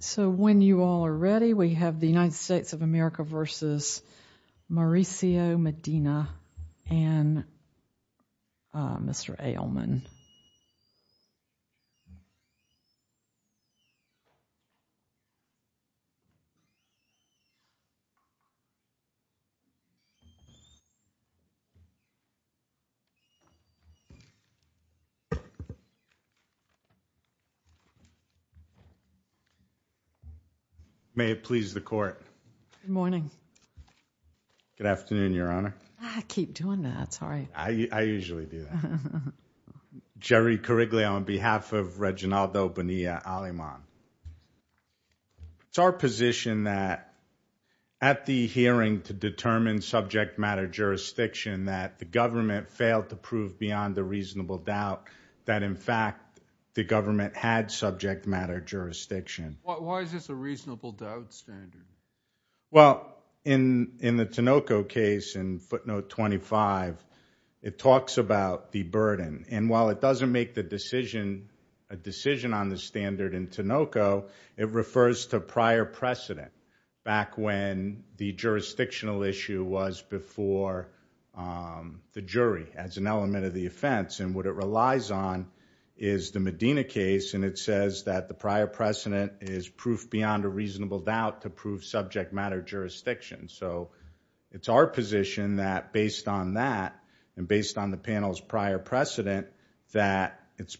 So when you all are ready we have the United States of America versus Mauricio Medina and Mr. Ailman. It's our position that at the hearing to determine subject matter jurisdiction that the government failed to prove beyond a reasonable doubt that in fact the government had subject matter jurisdiction. Why is this a reasonable doubt standard? Well in the Tinoco case in footnote 25 it talks about the burden and while it doesn't make the decision a decision on the standard in Tinoco it refers to prior precedent back when the jurisdictional issue was before the jury as an element of the offense and what it relies on is the Medina case and it says that the prior precedent is proof beyond a reasonable doubt to prove subject matter jurisdiction. So it's our position that based on that and based on the panel's prior precedent that it's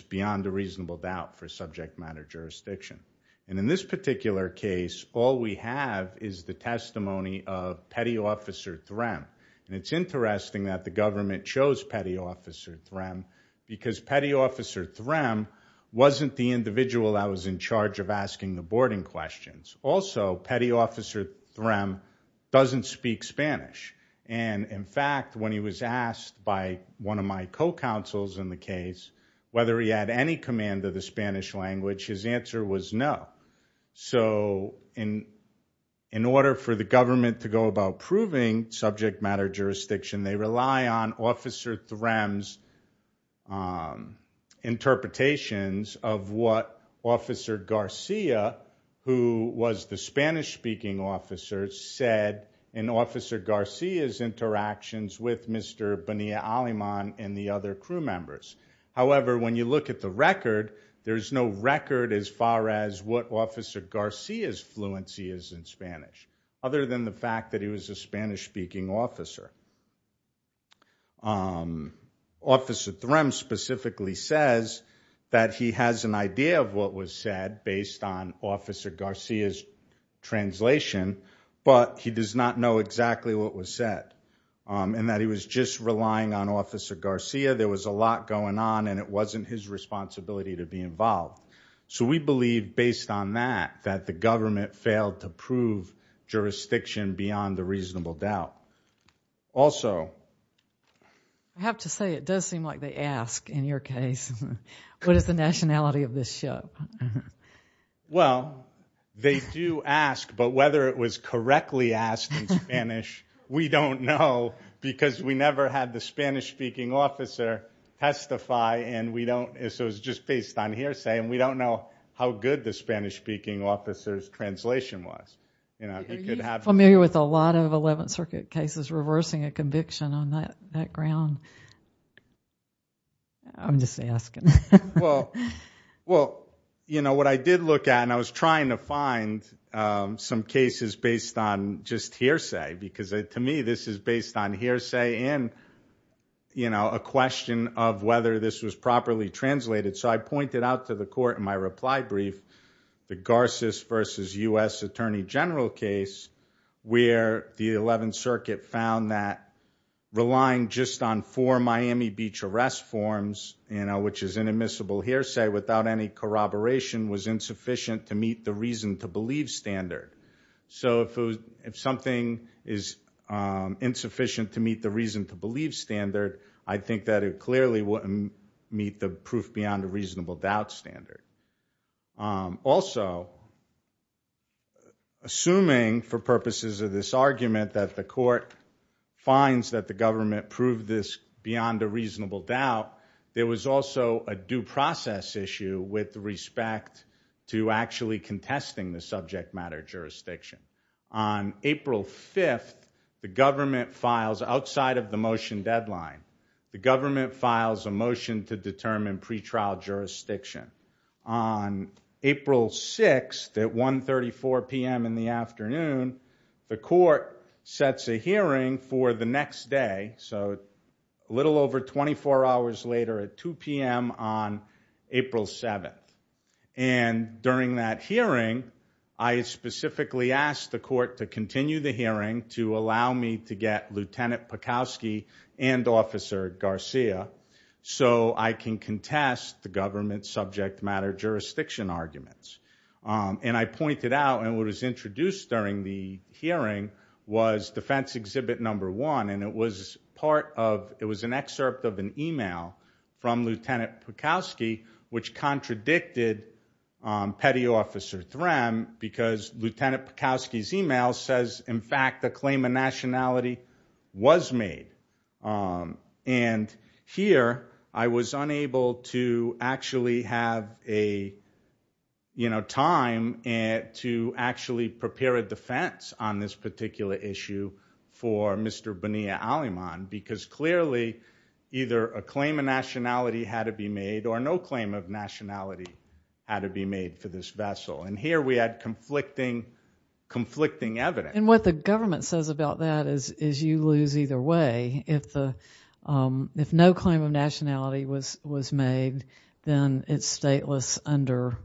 beyond a reasonable doubt for subject matter jurisdiction. And in this particular case all we have is the testimony of Petty Officer Threm and it's interesting that the government chose Petty Officer Threm because Petty Officer Threm wasn't the individual that was in charge of asking the boarding questions. Also Petty Officer Threm doesn't speak Spanish and in fact when he was asked by one of my co-counsels in the case whether he had any command of the Spanish language his answer was no. So in order for the government to go about proving subject matter jurisdiction they rely on Officer Threm's interpretations of what Officer Garcia who was the Spanish speaking officer said in Officer Garcia's interactions with Mr. Bonilla-Aleman and the other crew members. However when you look at the record there's no record as far as what Officer Garcia's fluency is in Spanish other than the fact that he was a Spanish speaking officer. Officer Threm specifically says that he has an idea of what was said based on Officer Garcia's translation but he does not know exactly what was said and that he was just relying on Officer Garcia. There was a lot going on and it wasn't his responsibility to be involved. So we believe based on that that the government failed to prove jurisdiction beyond a reasonable doubt. Also I have to say it does seem like they ask in your case what is the nationality of this ship. Well they do ask but whether it was correctly asked in Spanish we don't know because we never had the Spanish speaking officer testify so it was just based on hearsay and we don't know how good the Spanish speaking officer's translation was. Are you familiar with a lot of Eleventh Circuit cases reversing a conviction on that ground? I'm just asking. What I did look at and I was trying to find some cases based on just hearsay because to me this is based on hearsay and a question of whether this was properly translated so I pointed out to the court in my reply brief the Garces versus U.S. Attorney General case where the Eleventh Circuit found that relying just on four Miami Beach arrest forms which is an admissible hearsay without any corroboration was insufficient to meet the reason to believe standard. So if something is insufficient to meet the reason to believe standard I think that it clearly wouldn't meet the proof beyond a reasonable doubt standard. Also assuming for purposes of this argument that the court finds that the government proved this beyond a reasonable doubt there was also a due process issue with respect to actually testing the subject matter jurisdiction. On April 5th the government files outside of the motion deadline the government files a motion to determine pretrial jurisdiction. On April 6th at 1.34 p.m. in the afternoon the court sets a hearing for the next day so a little over 24 hours later at 2 p.m. on April 7th. And during that hearing I specifically asked the court to continue the hearing to allow me to get Lieutenant Pekowski and Officer Garcia so I can contest the government's subject matter jurisdiction arguments. And I pointed out and it was introduced during the hearing was defense exhibit number one and it was an excerpt of an e-mail from Lieutenant Pekowski which contradicted Petty Officer Threm because Lieutenant Pekowski's e-mail says in fact a claim of nationality was made. And here I was unable to actually have a time to actually prepare a defense on this particular issue for Mr. Bonilla-Aleman because clearly either a claim of nationality had to be made or no claim of nationality had to be made for this vessel and here we had conflicting evidence. And what the government says about that is you lose either way if no claim of nationality was made then it's stateless under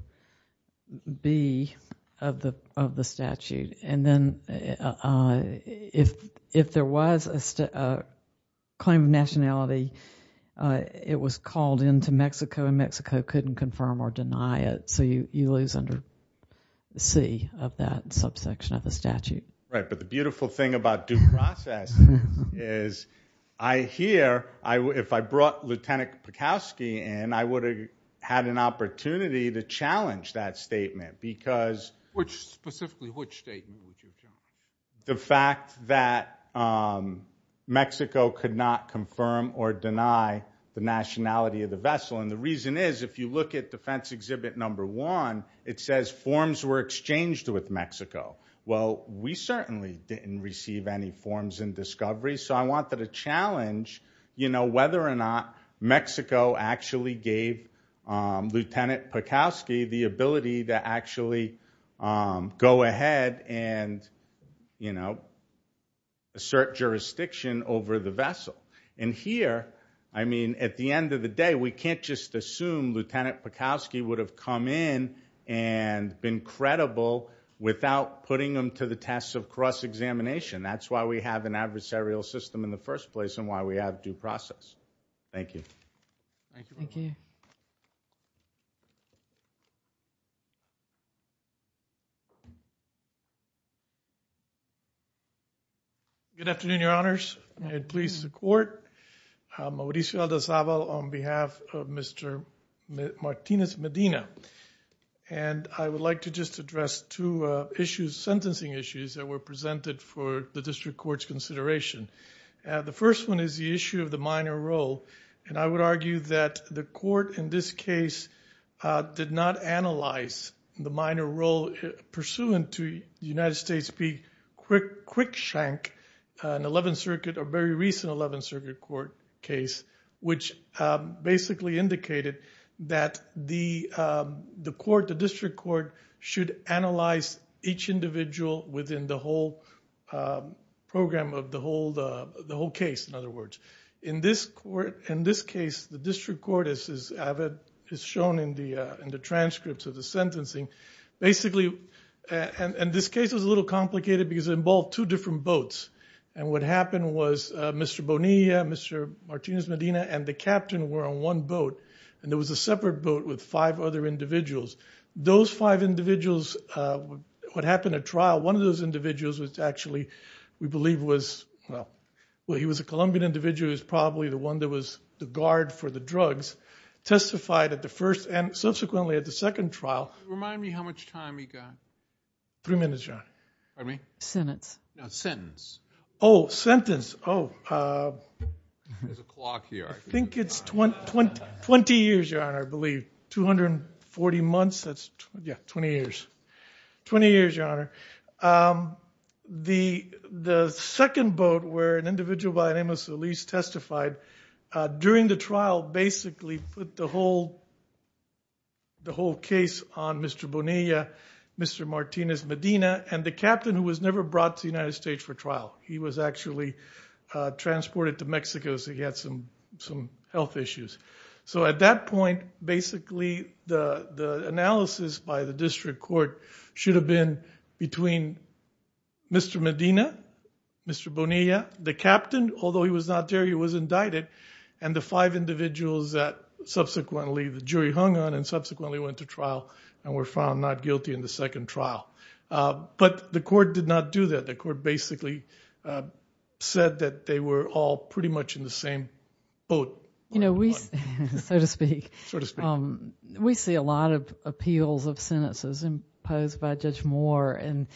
B of the statute. And then if there was a claim of nationality it was called into Mexico and Mexico couldn't confirm or deny it so you lose under C of that subsection of the statute. The beautiful thing about due process is I hear if I brought Lieutenant Pekowski in I would have had an opportunity to challenge that statement because the fact that Mexico could not confirm or deny the nationality of the vessel and the reason is if you look at defense exhibit number one it says forms were exchanged with Mexico. Well, we certainly didn't receive any forms and discoveries so I wanted to challenge whether or not Mexico actually gave Lieutenant Pekowski the ability to actually go ahead and assert jurisdiction over the vessel. And here, I mean, at the end of the day we can't just assume Lieutenant Pekowski would have come in and been credible without putting him to the test of cross-examination. That's why we have an adversarial system in the first place and why we have due process. Thank you. Thank you. Thank you. Good afternoon, Your Honors, and please support Mauricio Aldozabal on behalf of Mr. Martinez Medina. And I would like to just address two issues, sentencing issues that were presented for the district court's consideration. The first one is the issue of the minor role and I would argue that the court in this case did not analyze the minor role pursuant to United States v. Quickshank, an 11th Circuit or very recent 11th Circuit court case, which basically indicated that the court, the district court, should analyze each individual within the whole program of the whole case, in other words. In this case, the district court, as is shown in the transcripts of the sentencing, basically, and this case was a little complicated because it involved two different boats. And what happened was Mr. Bonilla, Mr. Martinez Medina, and the captain were on one boat and there was a separate boat with five other individuals. Those five individuals, what happened at trial, one of those individuals was actually, we believe was, well, he was a Colombian individual, he was probably the one that was the guard for the drugs, testified at the first and subsequently at the second trial. Remind me how much time we got. Three minutes, John. Pardon me? Sentence. No, sentence. Oh, sentence. Oh. There's a clock here. I think it's 20 years, Your Honor, I believe. 240 months, that's, yeah, 20 years. 20 years, Your Honor. The second boat where an individual by the name of Solis testified during the trial basically put the whole case on Mr. Bonilla, Mr. Martinez Medina, and the captain who was never brought to the United States for trial. He was actually transported to Mexico so he had some health issues. So at that point, basically, the analysis by the district court should have been between Mr. Medina, Mr. Bonilla, the captain, although he was not there, he was indicted, and the five individuals that subsequently the jury hung on and subsequently went to trial and were found not guilty in the second trial. But the court did not do that. The court basically said that they were all pretty much in the same boat. You know, we, so to speak, we see a lot of appeals of sentences imposed by Judge Moore and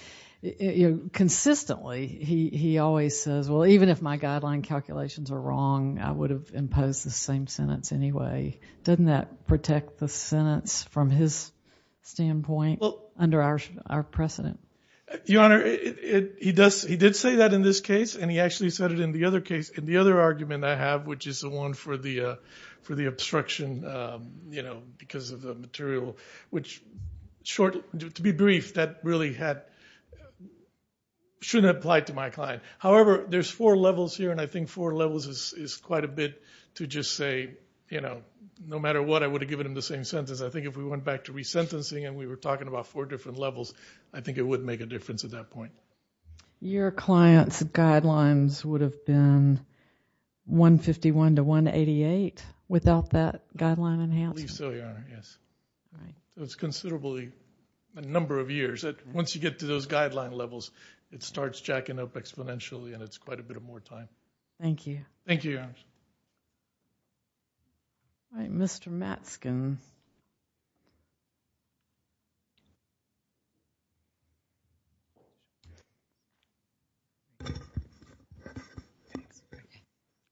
consistently, he always says, well, even if my guideline calculations are wrong, I would have imposed the same sentence anyway. Doesn't that protect the sentence from his standpoint under our precedent? Your Honor, he does, he did say that in this case and he actually said it in the other case, in the other argument I have, which is the one for the obstruction, you know, because of the material, which, to be brief, that really had, shouldn't apply to my client. However, there's four levels here and I think four levels is quite a bit to just say, you know, no matter what, I would have given him the same sentence. I think if we went back to resentencing and we were talking about four different levels, I think it would make a difference at that point. Your client's guidelines would have been 151 to 188 without that guideline enhancement? I believe so, Your Honor, yes. It's considerably, a number of years. Once you get to those guideline levels, it starts jacking up exponentially and it's quite a bit of more time. Thank you. Thank you, Your Honor. Any other questions? All right, Mr. Matsken.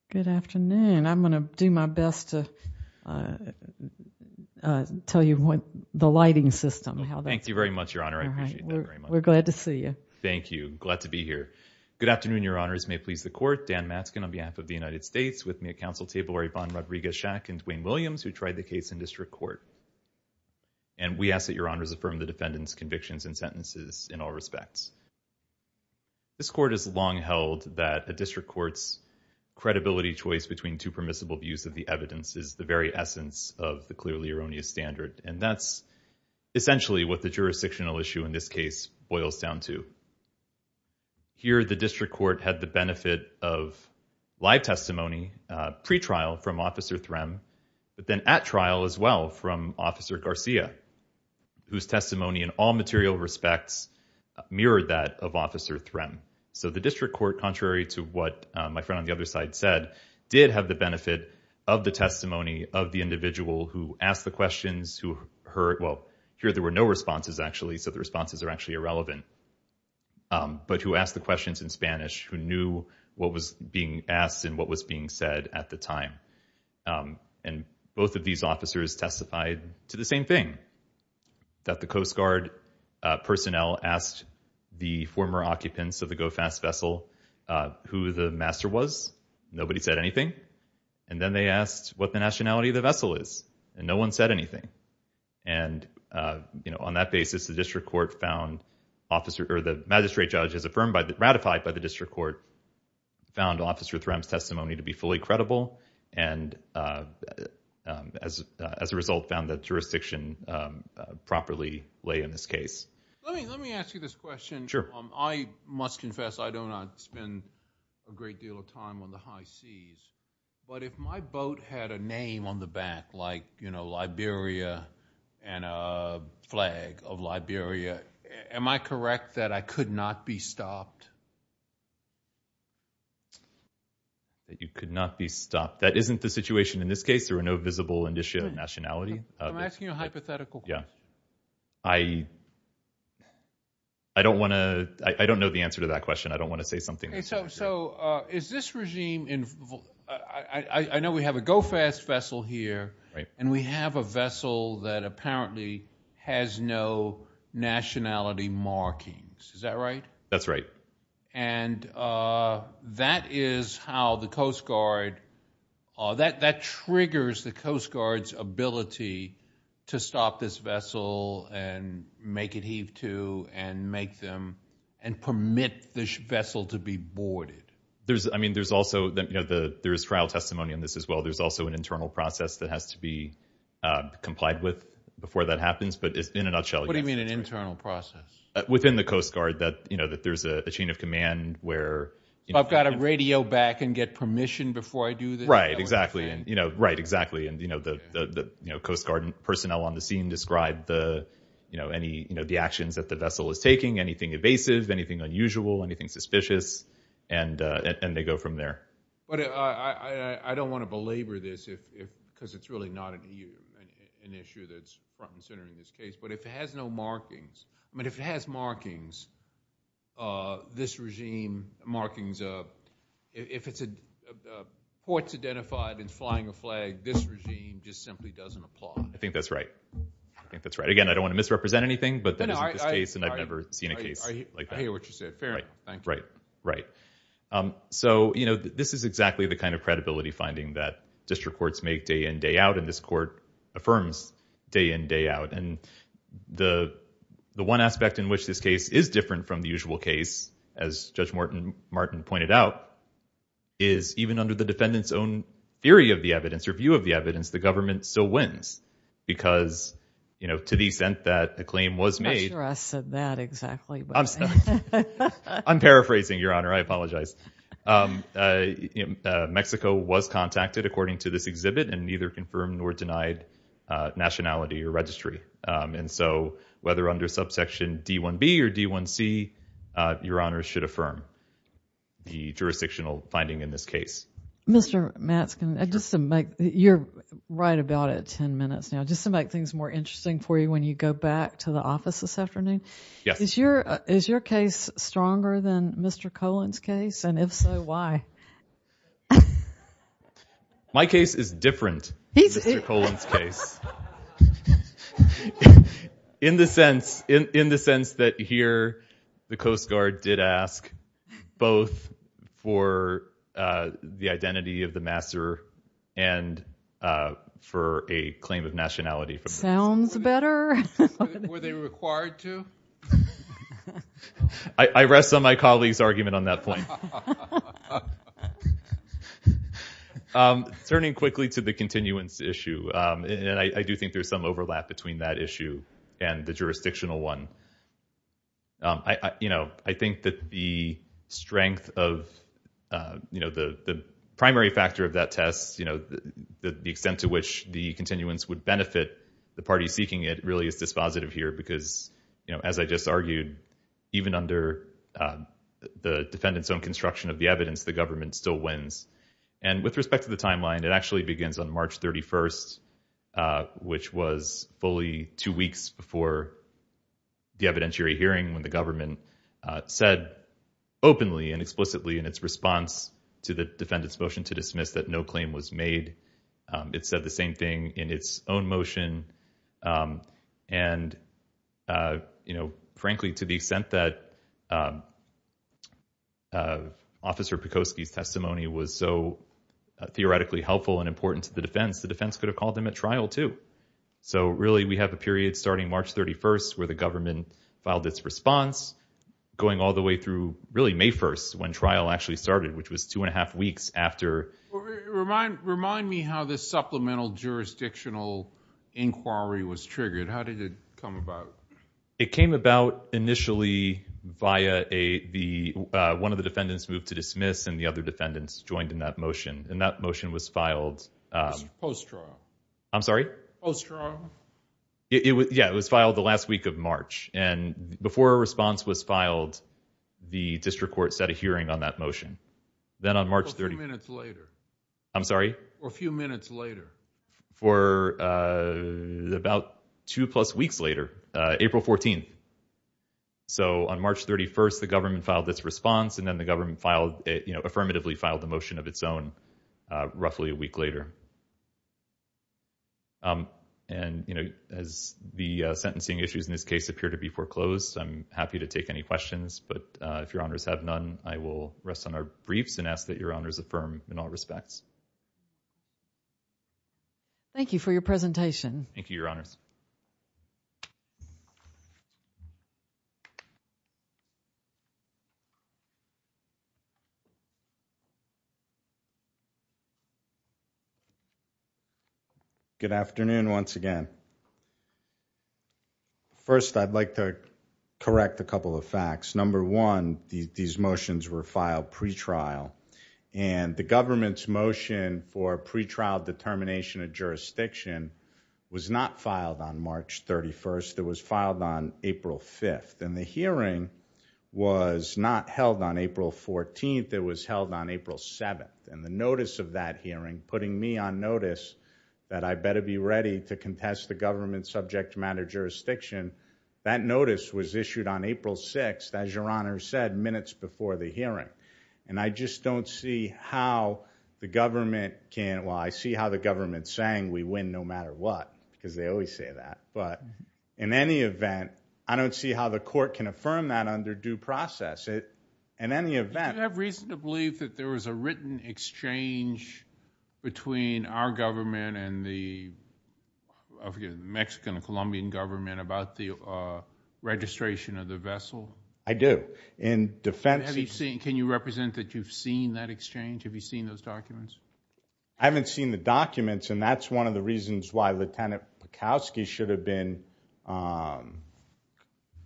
Good afternoon. I'm going to do my best to tell you what the lighting system, how that's. Thank you very much, Your Honor. I appreciate that very much. We're glad to see you. Thank you. Glad to be here. Good afternoon, Your Honors. Your Honors, may it please the court, Dan Matsken on behalf of the United States with me at counsel table, Rayvon Rodriguez-Shack and Dwayne Williams, who tried the case in district court. And we ask that Your Honors affirm the defendant's convictions and sentences in all respects. This court has long held that a district court's credibility choice between two permissible views of the evidence is the very essence of the clearly erroneous standard. And that's essentially what the jurisdictional issue in this case boils down to. Here, the district court had the benefit of live testimony pretrial from Officer Threm, but then at trial as well from Officer Garcia, whose testimony in all material respects mirrored that of Officer Threm. So the district court, contrary to what my friend on the other side said, did have the benefit of the testimony of the individual who asked the questions, who heard. Well, here there were no responses, actually, so the responses are actually irrelevant. But who asked the questions in Spanish, who knew what was being asked and what was being said at the time. And both of these officers testified to the same thing, that the Coast Guard personnel asked the former occupants of the GO Fast vessel who the master was. Nobody said anything. And then they asked what the nationality of the vessel is, and no one said anything. And on that basis, the magistrate judge, as ratified by the district court, found Officer Threm's testimony to be fully credible, and as a result, found that jurisdiction properly lay in this case. Let me ask you this question. I must confess I do not spend a great deal of time on the high seas, but if my boat had a name on the back, like, you know, Liberia and a flag of Liberia, am I correct that I could not be stopped? That you could not be stopped. That isn't the situation in this case. There were no visible indicia of nationality. I'm asking a hypothetical question. Yeah. I don't want to, I don't know the answer to that question. I don't want to say something that's not true. So is this regime, I know we have a GO-FAST vessel here, and we have a vessel that apparently has no nationality markings. Is that right? That's right. And that is how the Coast Guard, that triggers the Coast Guard's ability to stop this vessel and make it heave to and make them, and permit this vessel to be boarded. There's, I mean, there's also, you know, there's trial testimony on this as well. There's also an internal process that has to be complied with before that happens, but in a nutshell. What do you mean an internal process? Within the Coast Guard that, you know, that there's a chain of command where... I've got to radio back and get permission before I do this? Right, exactly. Right, exactly. And, you know, the Coast Guard personnel on the scene describe the, you know, any, you know, the actions that the vessel is taking, anything evasive, anything unusual, anything suspicious, and they go from there. But I don't want to belabor this because it's really not an EU, an issue that's front and center in this case. But if it has no markings, I mean, if it has markings, this regime markings, if it's a court's identified and flying a flag, this regime just simply doesn't apply. I think that's right. I think that's right. Again, I don't want to misrepresent anything, but that isn't the case and I've never seen a case like that. I hear what you said. Fair enough. Thank you. Right, right. So, you know, this is exactly the kind of credibility finding that district courts make day in, day out, and this court affirms day in, day out. And the one aspect in which this case is different from the usual case, as Judge Martin pointed out, is even under the defendant's own theory of the evidence, or view of the evidence, the government still wins. Because, you know, to the extent that a claim was made... I'm not sure I said that exactly. I'm sorry. I'm paraphrasing, Your Honor. I apologize. Mexico was contacted, according to this exhibit, and neither confirmed nor denied nationality or registry. And so, whether under subsection D-1B or D-1C, Your Honor should affirm the jurisdictional finding in this case. Mr. Matzkin, just to make... You're right about it ten minutes now. Just to make things more interesting for you, when you go back to the office this afternoon. Yes. Is your case stronger than Mr. Colon's case? And if so, why? My case is different than Mr. Colon's case. In the sense that, here, the Coast Guard did ask both for the identity of the master and for a claim of nationality. Sounds better. Were they required to? I rest on my colleague's argument on that point. Turning quickly to the continuance issue, and I do think there's some overlap between that issue and the jurisdictional one. I think that the strength of the primary factor of that test, the extent to which the continuance would benefit the parties seeking it, really is dispositive here, because, as I just argued, even under the defendant's own construction of the evidence, the government still wins. And with respect to the timeline, it actually begins on March 31st, which was fully two weeks before the evidentiary hearing, when the government said openly and explicitly in its response to the defendant's motion to dismiss that no claim was made. It said the same thing in its own motion. And, frankly, to the extent that Officer Pikosky's testimony was so theoretically helpful and important to the defense, the defense could have called them at trial, too. So, really, we have a period starting March 31st, where the government filed its response, going all the way through, really, May 1st, when trial actually started, which was two and a half weeks after... Remind me how this supplemental jurisdictional inquiry was triggered. How did it come about? It came about, initially, via one of the defendants moved to dismiss, and the other defendants joined in that motion. And that motion was filed... Post-trial. I'm sorry? Post-trial. Yeah, it was filed the last week of March. And before a response was filed, the district court set a hearing on that motion. Then, on March 31st... A few minutes later. I'm sorry? A few minutes later. For about two-plus weeks later, April 14th. So, on March 31st, the government filed its response, and then the government affirmatively filed the motion of its own, roughly a week later. And, you know, as the sentencing issues in this case appear to be foreclosed, I'm happy to take any questions. But if Your Honors have none, I will rest on our briefs and ask that Your Honors affirm in all respects. Thank you for your presentation. Thank you, Your Honors. Good afternoon, once again. First, I'd like to correct a couple of facts. Number one, these motions were filed pre-trial. And the government's motion for pre-trial determination of jurisdiction was not filed on March 31st. It was filed on April 5th. And the hearing was not held on April 14th. It was held on April 7th. And the notice of that hearing, putting me on notice that I better be ready to contest the government's subject matter jurisdiction, that notice was issued on April 6th. As Your Honors said, minutes before the hearing. And I just don't see how the government can, well, I see how the government's saying we win no matter what. Because they always say that. But in any event, I don't see how the court can affirm that under due process. In any event... Do you have reason to believe that there was a written exchange between our government and the, I forget, Mexican and Colombian government about the registration of the vessel? I do. In defense... Have you seen, can you represent that you've seen that exchange? Have you seen those documents? I haven't seen the documents. And that's one of the reasons why Lieutenant Pekowski should have been,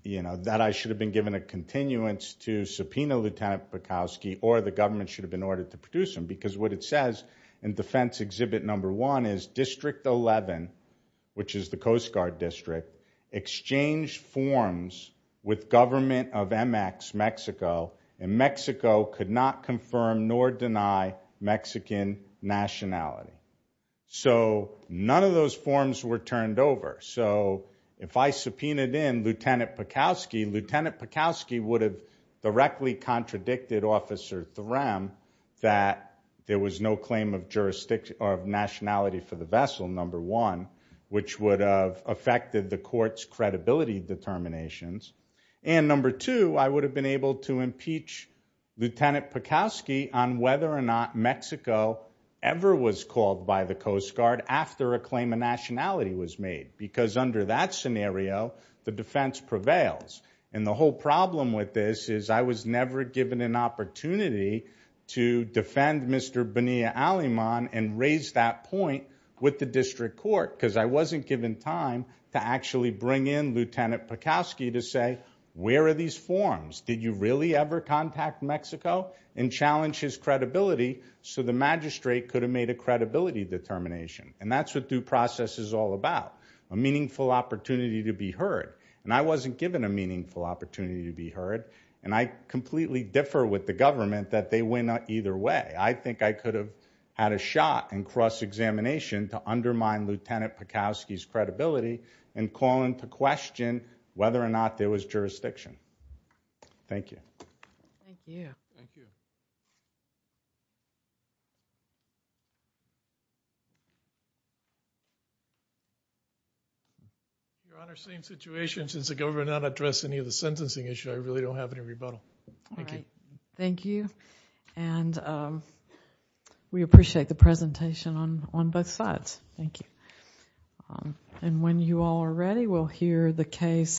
you know, that I should have been given a continuance to subpoena Lieutenant Pekowski or the government should have been ordered to produce him. Because what it says in defense exhibit number one is District 11, which is the Coast Guard District, exchanged forms with government of MX, Mexico, and Mexico could not confirm nor deny Mexican nationality. So none of those forms were turned over. So if I subpoenaed in Lieutenant Pekowski, Lieutenant Pekowski would have directly contradicted Officer Thuram that there was no claim of jurisdiction or of nationality for the vessel, number one, which would have affected the court's credibility determinations. And number two, I would have been able to impeach Lieutenant Pekowski on whether or not Mexico ever was called by the Coast Guard after a claim of nationality was made. Because under that scenario, the defense prevails. And the whole problem with this is I was never given an opportunity to defend Mr. Bonilla-Aleman and raise that point with the district court because I wasn't given time to actually bring in Lieutenant Pekowski to say, where are these forms? Did you really ever contact Mexico and challenge his credibility? So the magistrate could have made a credibility determination. And that's what due process is all about, a meaningful opportunity to be heard. And I wasn't given a meaningful opportunity to be heard. And I completely differ with the government that they went either way. I think I could have had a shot in cross-examination to undermine Lieutenant Pekowski's credibility and call into question whether or not there was jurisdiction. Thank you. Your Honor, same situation. Since the government did not address any of the sentencing issues, I really don't have any rebuttal. Thank you. Thank you. And we appreciate the presentation on both sides. Thank you. And when you all are ready, we'll hear the case.